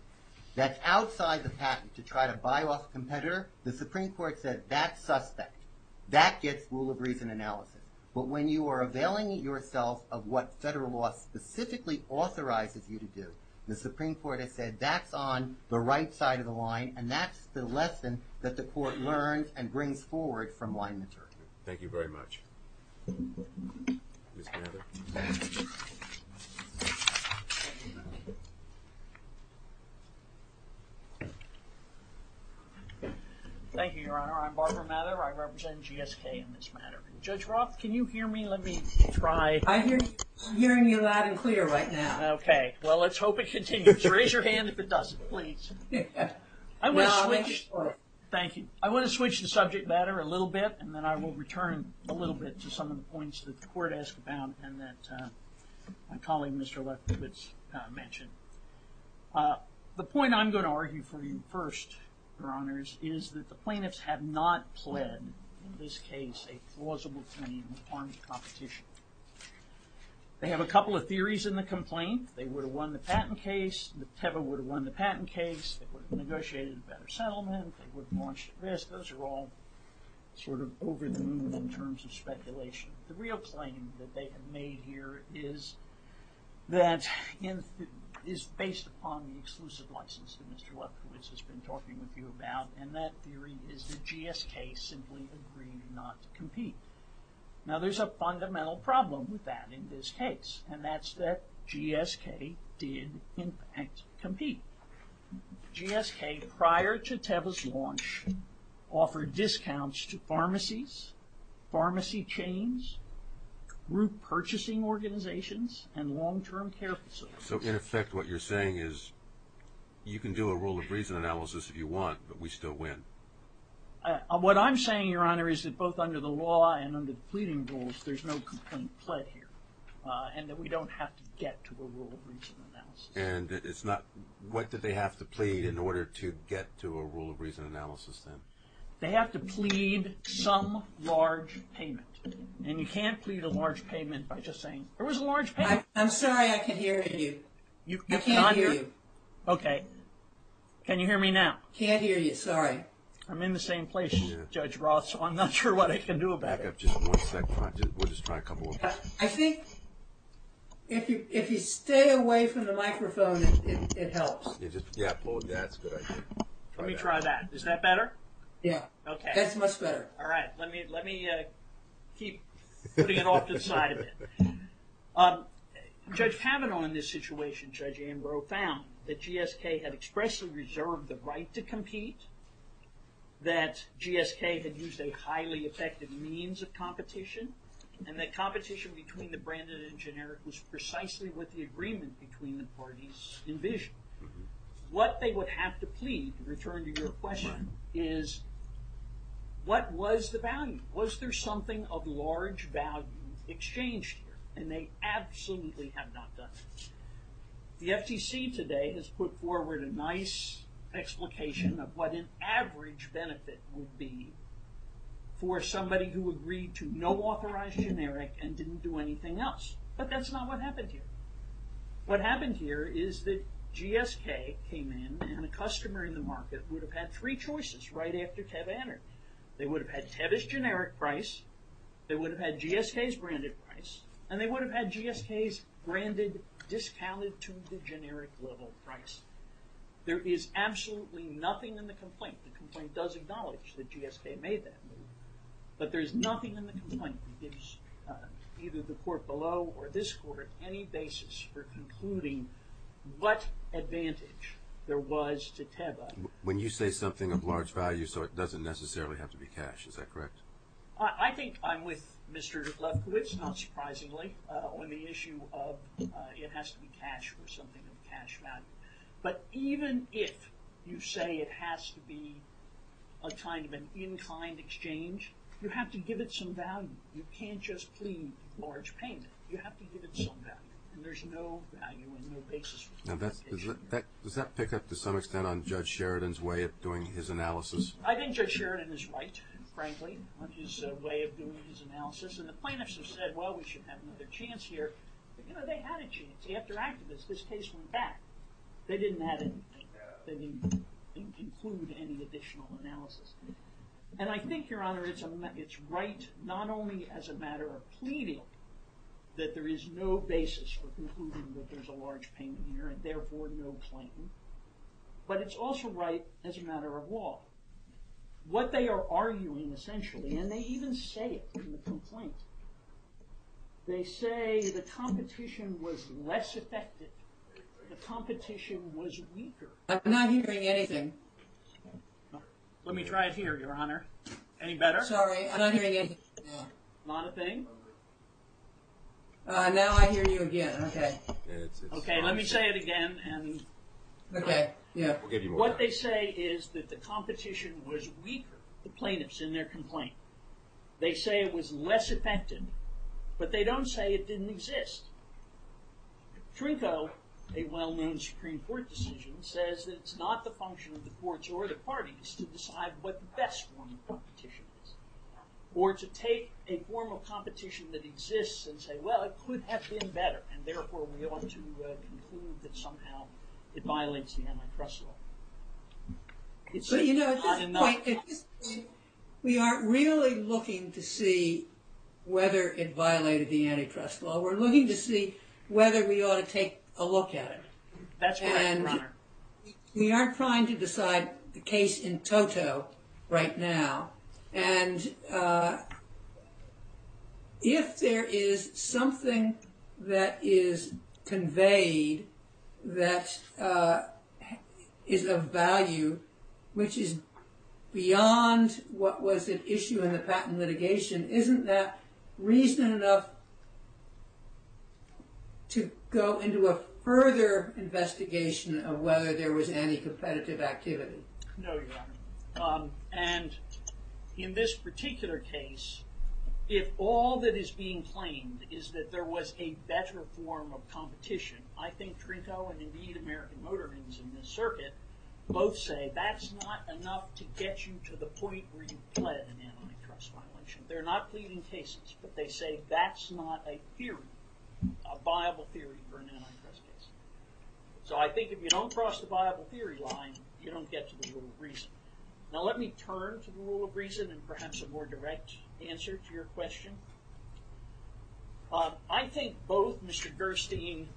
that's outside the patent to try to buy off a competitor, the Supreme Court said that's suspect. That gets rule of reason analysis. But when you are availing yourself of what federal law specifically authorizes you to do, the Supreme Court has said that's on the right side of the line, and that's the lesson that the court learns and brings forward from line material. Thank you very much. Ms. Mather. Thank you, Your Honor. I'm Barbara Mather. I represent GSK in this matter. Judge Roth, can you hear me? Let me try— I'm hearing you loud and clear right now. Okay. Well, let's hope it continues. Raise your hand if it doesn't, please. I want to switch— No, I'll make it short. Thank you. I want to switch the subject matter a little bit, and then I will return a little bit to some of the points that the court asked about and that my colleague, Mr. Lefkowitz, mentioned. The point I'm going to argue for you first, Your Honors, is that the plaintiffs have not pled, in this case, a plausible claim on the competition. They have a couple of theories in the complaint. They would have won the patent case. The Teva would have won the patent case. They would have negotiated a better settlement. They would have launched a risk. Those are all sort of over the moon in terms of speculation. The real claim that they have made here is that it is based upon the exclusive license that Mr. Lefkowitz has been talking with you about, and that theory is that GSK simply agreed not to compete. Now, there's a fundamental problem with that in this case, and that's that GSK did, in fact, compete. GSK, prior to Teva's launch, offered discounts to pharmacies, pharmacy chains, group purchasing organizations, and long-term care facilities. So, in effect, what you're saying is you can do a rule of reason analysis if you want, but we still win. What I'm saying, Your Honor, is that both under the law and under the pleading rules, there's no complaint pled here, and that we don't have to get to a rule of reason analysis. And it's not, what did they have to plead in order to get to a rule of reason analysis then? They have to plead some large payment, and you can't plead a large payment by just saying, there was a large payment. I'm sorry, I can't hear you. You cannot hear? I can't hear you. Okay. Can you hear me now? Can't hear you. Sorry. I'm in the same place, Judge Roth, so I'm not sure what I can do about it. Back up just one second. We'll just try a couple of questions. I think if you stay away from the microphone, it helps. Yeah, that's a good idea. Let me try that. Is that better? Yeah. That's much better. All right. Let me keep putting it off to the side a bit. Judge Kavanaugh in this situation, Judge Ambrose, found that GSK had expressly reserved the right to compete, that GSK had used a highly effective means of competition, and that competition between the branded and generic was precisely what the agreement between the parties envisioned. What they would have to plead, to return to your question, is what was the value? Was there something of large value exchanged here? And they absolutely have not done that. The FCC today has put forward a nice explication of what an average benefit would be for somebody who agreed to no authorized generic and didn't do anything else. But that's not what happened here. What happened here is that GSK came in, and the customer in the market would have had three choices right after Teb entered. They would have had Teb's generic price, they would have had GSK's branded price, and they would have had GSK's branded, discounted to the generic level price. There is absolutely nothing in the complaint. The complaint does acknowledge that GSK made that move. But there is nothing in the complaint that gives either the court below or this court any basis for concluding what advantage there was to Teb. When you say something of large value, so it doesn't necessarily have to be cash, is that correct? I think I'm with Mr. Lefkowitz, not surprisingly, on the issue of it has to be cash or something of cash value. But even if you say it has to be a kind of an inclined exchange, you have to give it some value. You can't just plead large payment. You have to give it some value. And there's no value and no basis for that. Now, does that pick up to some extent on Judge Sheridan's way of doing his analysis? I think Judge Sheridan is right, frankly, on his way of doing his analysis. And the plaintiffs have said, well, we should have another chance here. But, you know, they had a chance. After activists, this case went back. They didn't have anything. They didn't conclude any additional analysis. And I think, Your Honor, it's right not only as a matter of pleading that there is no basis for concluding that there's a large payment here and, therefore, no claim, but it's also right as a matter of law. What they are arguing, essentially, and they even say it in the complaint, they say the competition was less effective. The competition was weaker. I'm not hearing anything. Let me try it here, Your Honor. Any better? Sorry, I'm not hearing anything. Not a thing? Now I hear you again, okay. Okay, let me say it again. Okay, yeah. What they say is that the competition was weaker, the plaintiffs in their complaint. They say it was less effective, but they don't say it didn't exist. Trinco, a well-known Supreme Court decision, says that it's not the function of the courts or the parties to decide what the best form of competition is or to take a form of competition that exists and say, well, it could have been better, and, therefore, we ought to conclude that somehow it violates the antitrust law. But, you know, at this point, we aren't really looking to see whether it violated the antitrust law. We're looking to see whether we ought to take a look at it. That's right, Your Honor. We aren't trying to decide the case in toto right now, and if there is something that is conveyed that is of value, which is beyond what was at issue in the patent litigation, isn't that reason enough to go into a further investigation of whether there was any competitive activity? No, Your Honor. And in this particular case, is that there was a better form of competition, I think Trinko and, indeed, American Motor Vans in this circuit both say that's not enough to get you to the point where you've pled an antitrust violation. They're not pleading cases, but they say that's not a theory, a viable theory for an antitrust case. So I think if you don't cross the viable theory line, you don't get to the rule of reason. Now, let me turn to the rule of reason and perhaps a more direct answer to your question. I think both Mr. Gerstein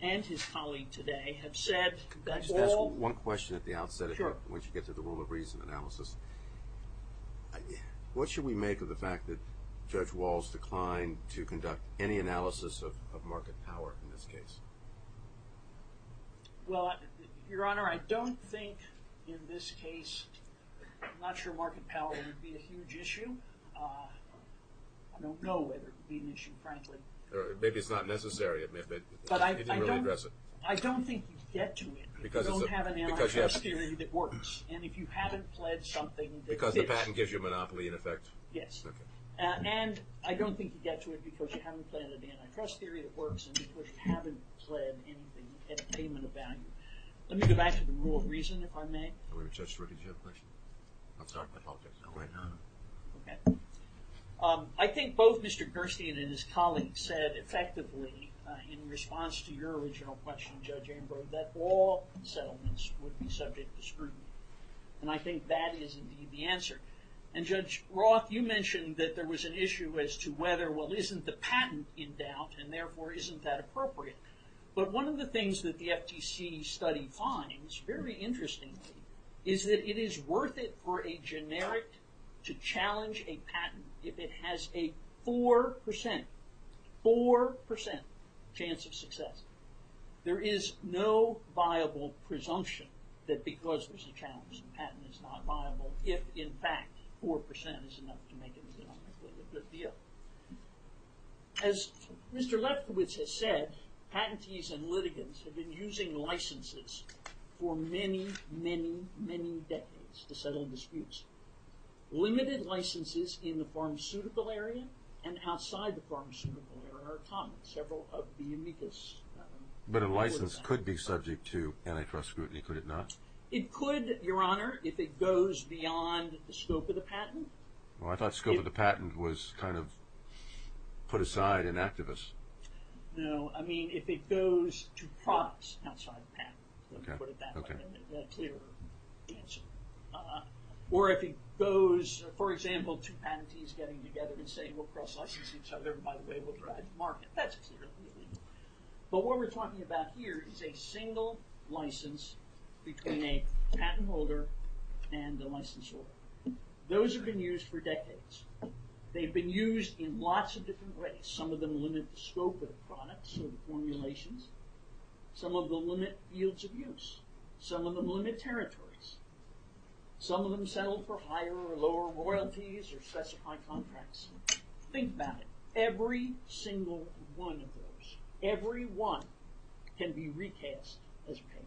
and his colleague today have said that all... Can I just ask one question at the outset? Sure. Once you get to the rule of reason analysis. What should we make of the fact that Judge Walls declined to conduct any analysis of market power in this case? Well, Your Honor, I don't think in this case, I'm not sure market power would be a huge issue. I don't know whether it would be an issue, frankly. Maybe it's not necessary. But I don't think you'd get to it if you don't have an antitrust theory that works. And if you haven't pledged something... Because the patent gives you a monopoly in effect? Yes. And I don't think you'd get to it because you haven't pledged an antitrust theory that works and because you haven't pledged anything at a payment of value. Let me go back to the rule of reason, if I may. Judge, did you have a question? I'm sorry, but I'll get to it right now. Okay. I think both Mr. Gerstein and his colleagues said effectively, in response to your original question, Judge Ambrose, that all settlements would be subject to scrutiny. And I think that is indeed the answer. And Judge Roth, you mentioned that there was an issue as to whether, well, isn't the patent in doubt and therefore isn't that appropriate? But one of the things that the FTC study finds, very interestingly, is that it is worth it for a generic to challenge a patent if it has a 4%, 4% chance of success. There is no viable presumption that because there's a challenge the patent is not viable if, in fact, 4% is enough to make it economically a good deal. As Mr. Lefkowitz has said, patentees and litigants have been using licenses for many, many, many decades to settle disputes. Limited licenses in the pharmaceutical area and outside the pharmaceutical area are common. Several of the amicus... But a license could be subject to antitrust scrutiny, could it not? It could, Your Honor, if it goes beyond the scope of the patent. Well, I thought scope of the patent was kind of put aside in activists. No, I mean if it goes to products outside the patent. Let me put it that way. That's a clearer answer. Or if it goes, for example, to patentees getting together and saying we'll cross-license each other and, by the way, we'll drive the market. That's clearly illegal. But what we're talking about here is a single license between a patent holder and the licensor. Those have been used for decades. They've been used in lots of different ways. Some of them limit the scope of the products or the formulations. Some of them limit yields of use. Some of them limit territories. Some of them settle for higher or lower royalties or specified contracts. Think about it. Every single one of those, every one, can be recast as a patent.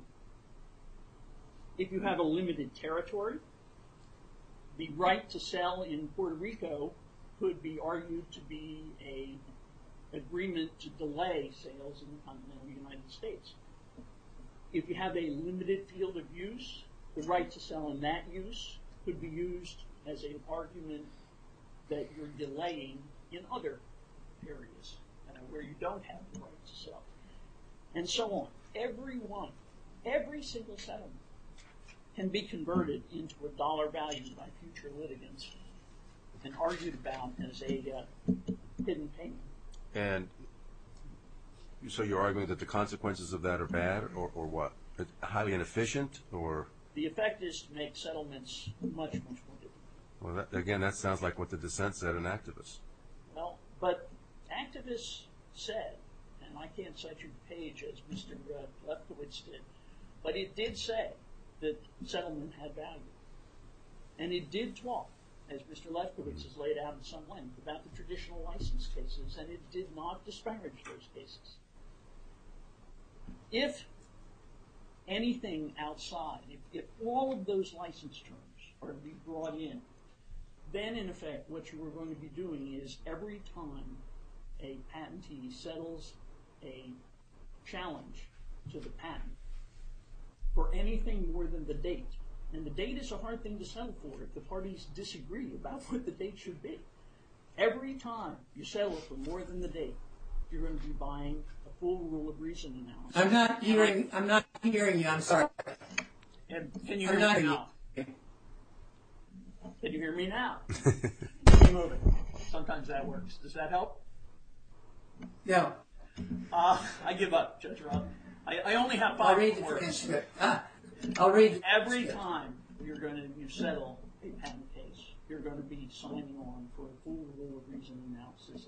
If you have a limited territory, the right to sell in Puerto Rico could be argued to be an agreement to delay sales in the continental United States. If you have a limited field of use, the right to sell in that use could be used as an argument that you're delaying in other areas where you don't have the right to sell. And so on. Every one, every single settlement can be converted into a dollar value by future litigants and argued about as a hidden payment. And so you're arguing that the consequences of that are bad or what? Highly inefficient or? The effect is to make settlements much, much more difficult. Well, again, that sounds like what the dissent said in Activist. But Activist said, and I can't cite you to page as Mr. Lefkowitz did, but it did say that settlement had value. And it did talk, as Mr. Lefkowitz has laid out in some length, about the traditional license cases, and it did not disparage those cases. If anything outside, if all of those license terms were to be brought in, then, in effect, what you were going to be doing is every time a patentee settles a challenge to the patent for anything more than the date, and the date is a hard thing to settle for if the parties disagree about what the date should be. Every time you settle for more than the date, you're going to be buying a full rule of reason analysis. I'm not hearing you. I'm sorry. Can you hear me now? Can you hear me now? Keep moving. Sometimes that works. Does that help? No. I give up, Judge Roth. I only have five more minutes. I'll read the transcript. Every time you settle a patent case, you're going to be signing on for a full rule of reason analysis.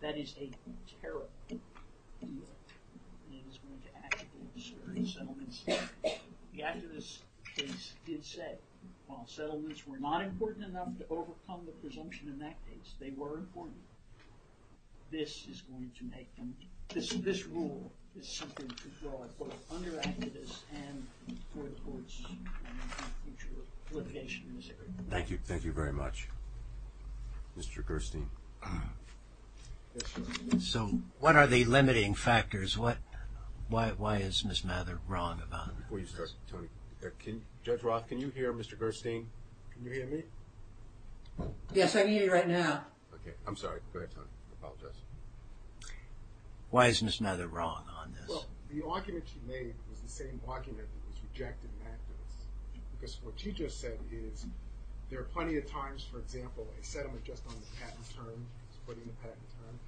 That is a terrible deal. It is going to actually disturb settlements. The activist case did say while settlements were not important enough to overcome the presumption in that case, they were important. This is going to make them. This rule is something to draw upon under activists and for the courts in the future litigation in this area. Thank you. Thank you very much. Mr. Gerstein. Yes, sir. What are the limiting factors? Why is Ms. Mather wrong about this? Before you start, Tony. Judge Roth, can you hear Mr. Gerstein? Can you hear me? Yes, I can hear you right now. I'm sorry. Go ahead, Tony. I apologize. Why is Ms. Mather wrong on this? The argument she made was the same argument that was rejected in activists. What she just said is there are plenty of times, for example, a settlement just on the patent term, splitting the patent term.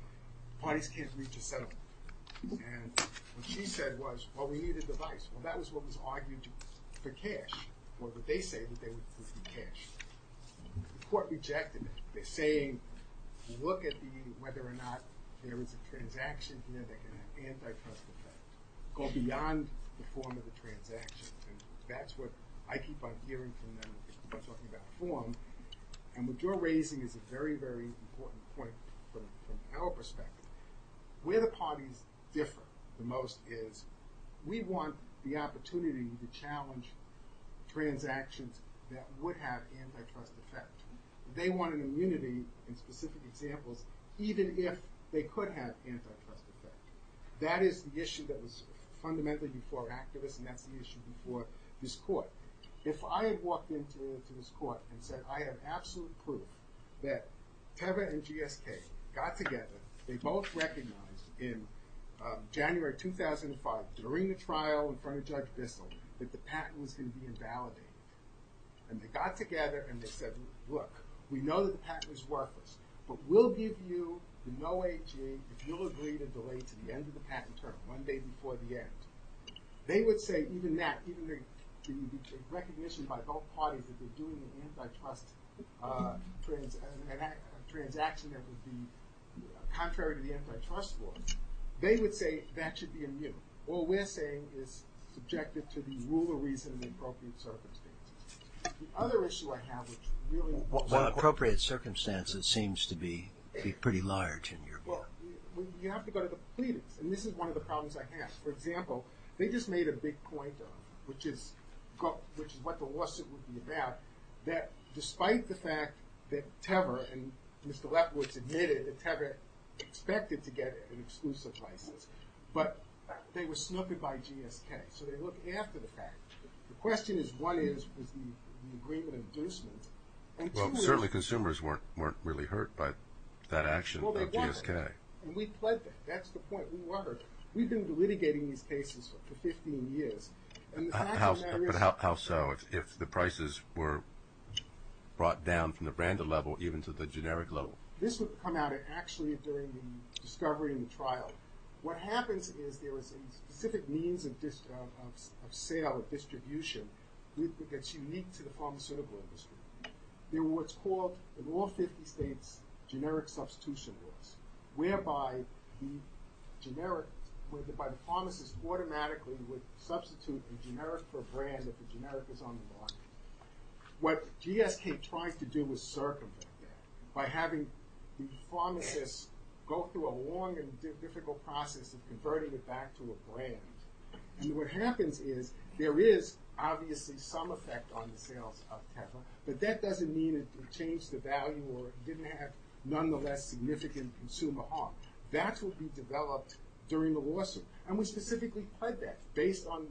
Parties can't reach a settlement. And what she said was, well, we need a device. Well, that was what was argued for cash or what they say would be cash. The court rejected it. They're saying, look at the, whether or not there is a transaction here that can have antitrust effect. Go beyond the form of the transaction. And that's what I keep on hearing from them when talking about form. And what you're raising is a very, very important point from our perspective. Where the parties differ the most is we want the opportunity to challenge transactions that would have antitrust effect. They want an immunity in specific examples even if they could have antitrust effect. That is the issue that was fundamentally before activists and that's the issue before this court. If I had walked into this court and said, I have absolute proof that Teva and GSK got together, they both recognized in January 2005 during the trial in front of Judge Bissell that the patent was going to be invalidated. And they got together and they said, look, we know that the patent was worthless, but we'll give you the no AG if you'll agree to delay to the end of the patent term, one day before the end. They would say even that, even the recognition by both parties that they're doing an antitrust transaction that would be contrary to the antitrust law, they would say that should be immune. What we're saying is subjective to the rule of reason and the appropriate circumstances. The other issue I have which really... Well, appropriate circumstances seems to be pretty large in your book. Well, you have to go to the plebians and this is one of the problems I have. For example, they just made a big point, which is what the lawsuit would be about, that despite the fact that Teva and Mr. Lefkowitz admitted that Teva expected to get an exclusive license, but they were snooping by GSK. So they look after the fact. The question is what is the agreement of inducement? Well, certainly consumers weren't really hurt by that action of GSK. And we've pledged that. That's the point. We've been litigating these cases for 15 years. But how so? If the prices were brought down from the branded level even to the generic level? This would come out actually during the discovery and the trial. What happens is there is a specific means of sale and distribution that's unique to the pharmaceutical industry. There were what's called the law of 50 states generic substitution laws whereby the pharmacist automatically would substitute a generic for a brand if the generic was on the market. What GSK tries to do is circumvent that by having the pharmacist go through a long and difficult process of converting it back to a brand. And what happens is there is obviously some effect on the sales of Teva, but that doesn't mean it changed the value or didn't have, nonetheless, significant consumer harm. That's what we developed during the lawsuit. And we specifically pledged that based on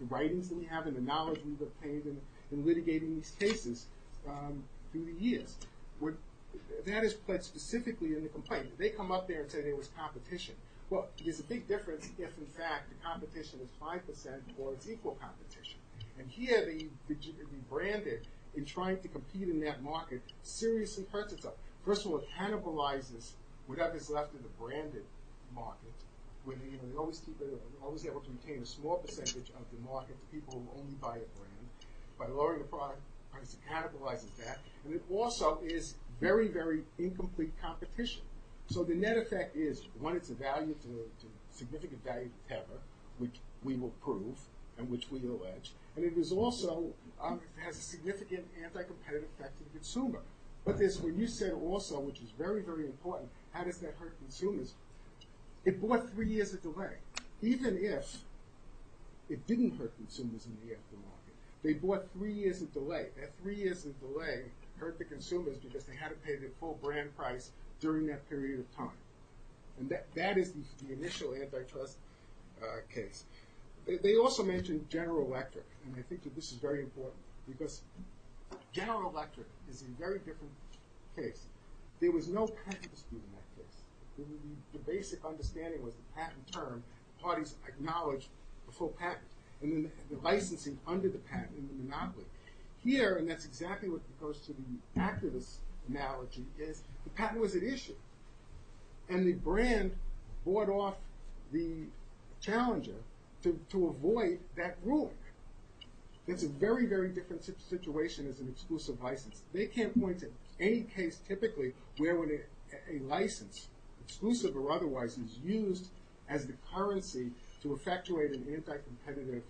the writings that we have and the knowledge we've obtained in litigating these cases through the years. That is pledged specifically in the complaint. They come up there and say there was competition. Well, there's a big difference if, in fact, the competition is 5% or it's equal competition. And here the branded, in trying to compete in that market, seriously hurts itself. First of all, it cannibalizes whatever's left of the branded market. We're always able to retain a small percentage of the market for people who only buy a brand. By lowering the product price, it cannibalizes that. And it also is very, very incomplete competition. So the net effect is, one, it's a significant value to Teva, which we will prove, and which we allege. And it also has a significant anti-competitive effect to the consumer. But when you said also, which is very, very important, how does that hurt consumers? It brought three years of delay. Even if it didn't hurt consumers in the aftermarket, they brought three years of delay. That three years of delay hurt the consumers because they had to pay their full brand price during that period of time. And that is the initial antitrust case. They also mentioned General Electric. And I think that this is very important because General Electric is a very different case. There was no patent dispute in that case. The basic understanding was the patent term. Parties acknowledged the full patent. And then the licensing under the patent in the monopoly. Here, and that's exactly what goes to the activist analogy, is the patent was at issue. And the brand bought off the challenger to avoid that ruling. That's a very, very different situation as an exclusive license. They can't point to any case, typically, where a license, exclusive or otherwise, is used as the currency to effectuate an anti-competitive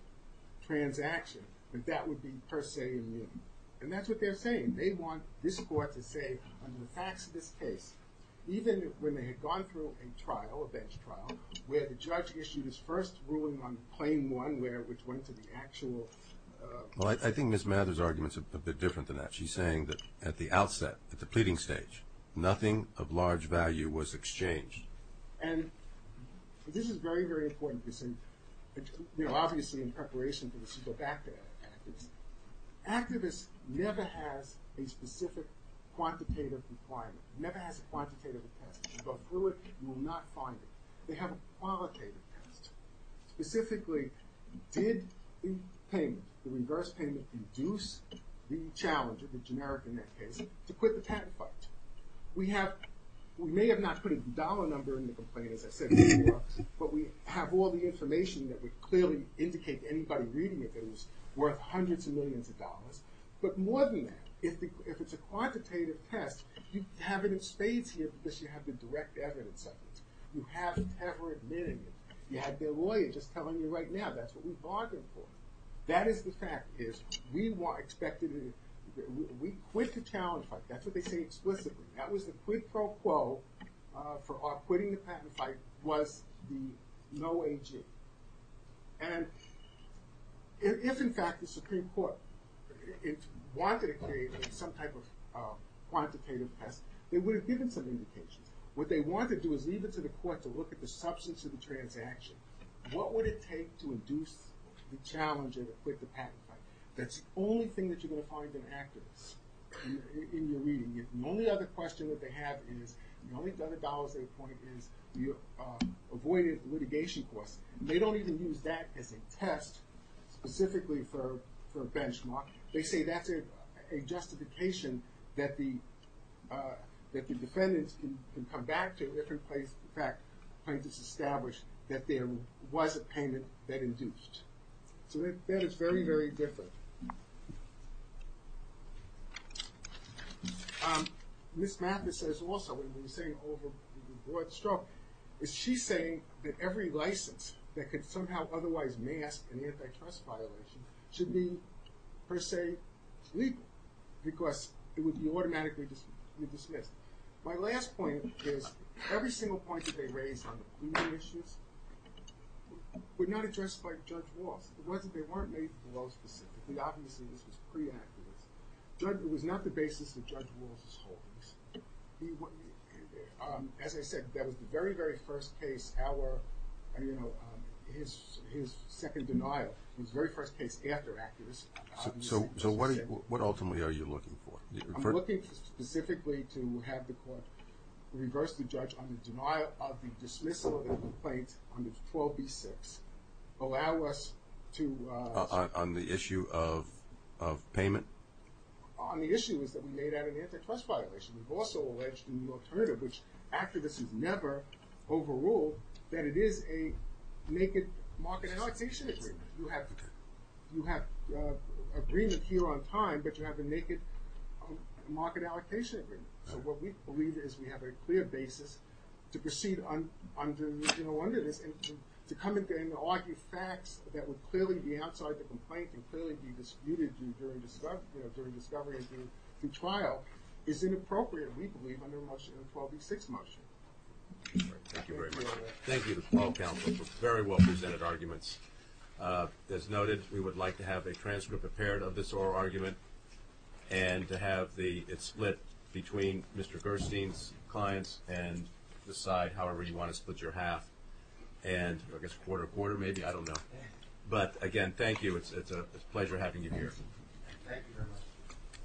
transaction. That would be per se immune. And that's what they're saying. They want this court to say, on the facts of this case, even when they had gone through a trial, a bench trial, where the judge issued his first ruling on claim one, which went to the actual... Well, I think Ms. Mather's argument is a bit different than that. She's saying that at the outset, at the pleading stage, nothing of large value was exchanged. And this is very, very important. Obviously, in preparation for this, we go back to that. Activists never has a specific quantitative requirement. Never has a quantitative test. You go through it, you will not find it. They have a qualitative test. Specifically, did the payment, the reverse payment, induce the challenger, the generic in that case, to quit the patent fight? We may have not put a dollar number in the complaint, as I said before, but we have all the information that would clearly indicate to anybody reading it that it was worth hundreds of millions of dollars. But more than that, if it's a quantitative test, you have it in spades here because you have the direct evidence of it. You haven't ever admitted it. You had their lawyer just telling you right now, that's what we bargained for. That is the fact, is we expected... We quit the challenge fight. That's what they say explicitly. That was the quid pro quo for our quitting the patent fight was the no AG. And if, in fact, the Supreme Court wanted to create some type of quantitative test, they would have given some indications. What they want to do is leave it to the court to look at the substance of the transaction. What would it take to induce the challenger to quit the patent fight? That's the only thing that you're going to find in accuracy in your reading. The only other question that they have is, the only other dollars they point is your avoided litigation costs. They don't even use that as a test specifically for benchmark. They say that's a justification that the defendants can come back to a different place. In fact, plaintiffs established that there was a payment that induced. So that is very, very different. Ms. Mathis says also, when we were saying overbought stroke, is she saying that every license that could somehow otherwise mask an antitrust violation should be, per se, legal because it would be automatically dismissed. My last point is, every single point that they raised on the quid issues were not addressed by Judge Walsh. They weren't made below specifically. Obviously, this was pre-accuracy. It was not the basis of Judge Walsh's holdings. As I said, that was the very, very first case. Our, you know, his second denial was the very first case after accuracy. So what ultimately are you looking for? I'm looking specifically to have the court reverse the judge on the denial of the dismissal of the complaint under 12b-6, allow us to... On the issue of payment? On the issues that we made out of the antitrust violation. We've also alleged in the alternative, which activists have never overruled, that it is a naked market allocation agreement. You have agreement here on time, but you have a naked market allocation agreement. So what we believe is we have a clear basis to proceed under this and to come in and argue facts that would clearly be outside the complaint and clearly be disputed during discovery and through trial is inappropriate, we believe, under a motion, a 12b-6 motion. Thank you very much. Thank you to the 12th Council for very well-presented arguments. As noted, we would like to have a transcript prepared of this oral argument and to have it split between Mr. Gerstein's clients and decide however you want to split your half. And I guess quarter quarter, maybe? I don't know. But again, thank you. It's a pleasure having you here. Thank you very much.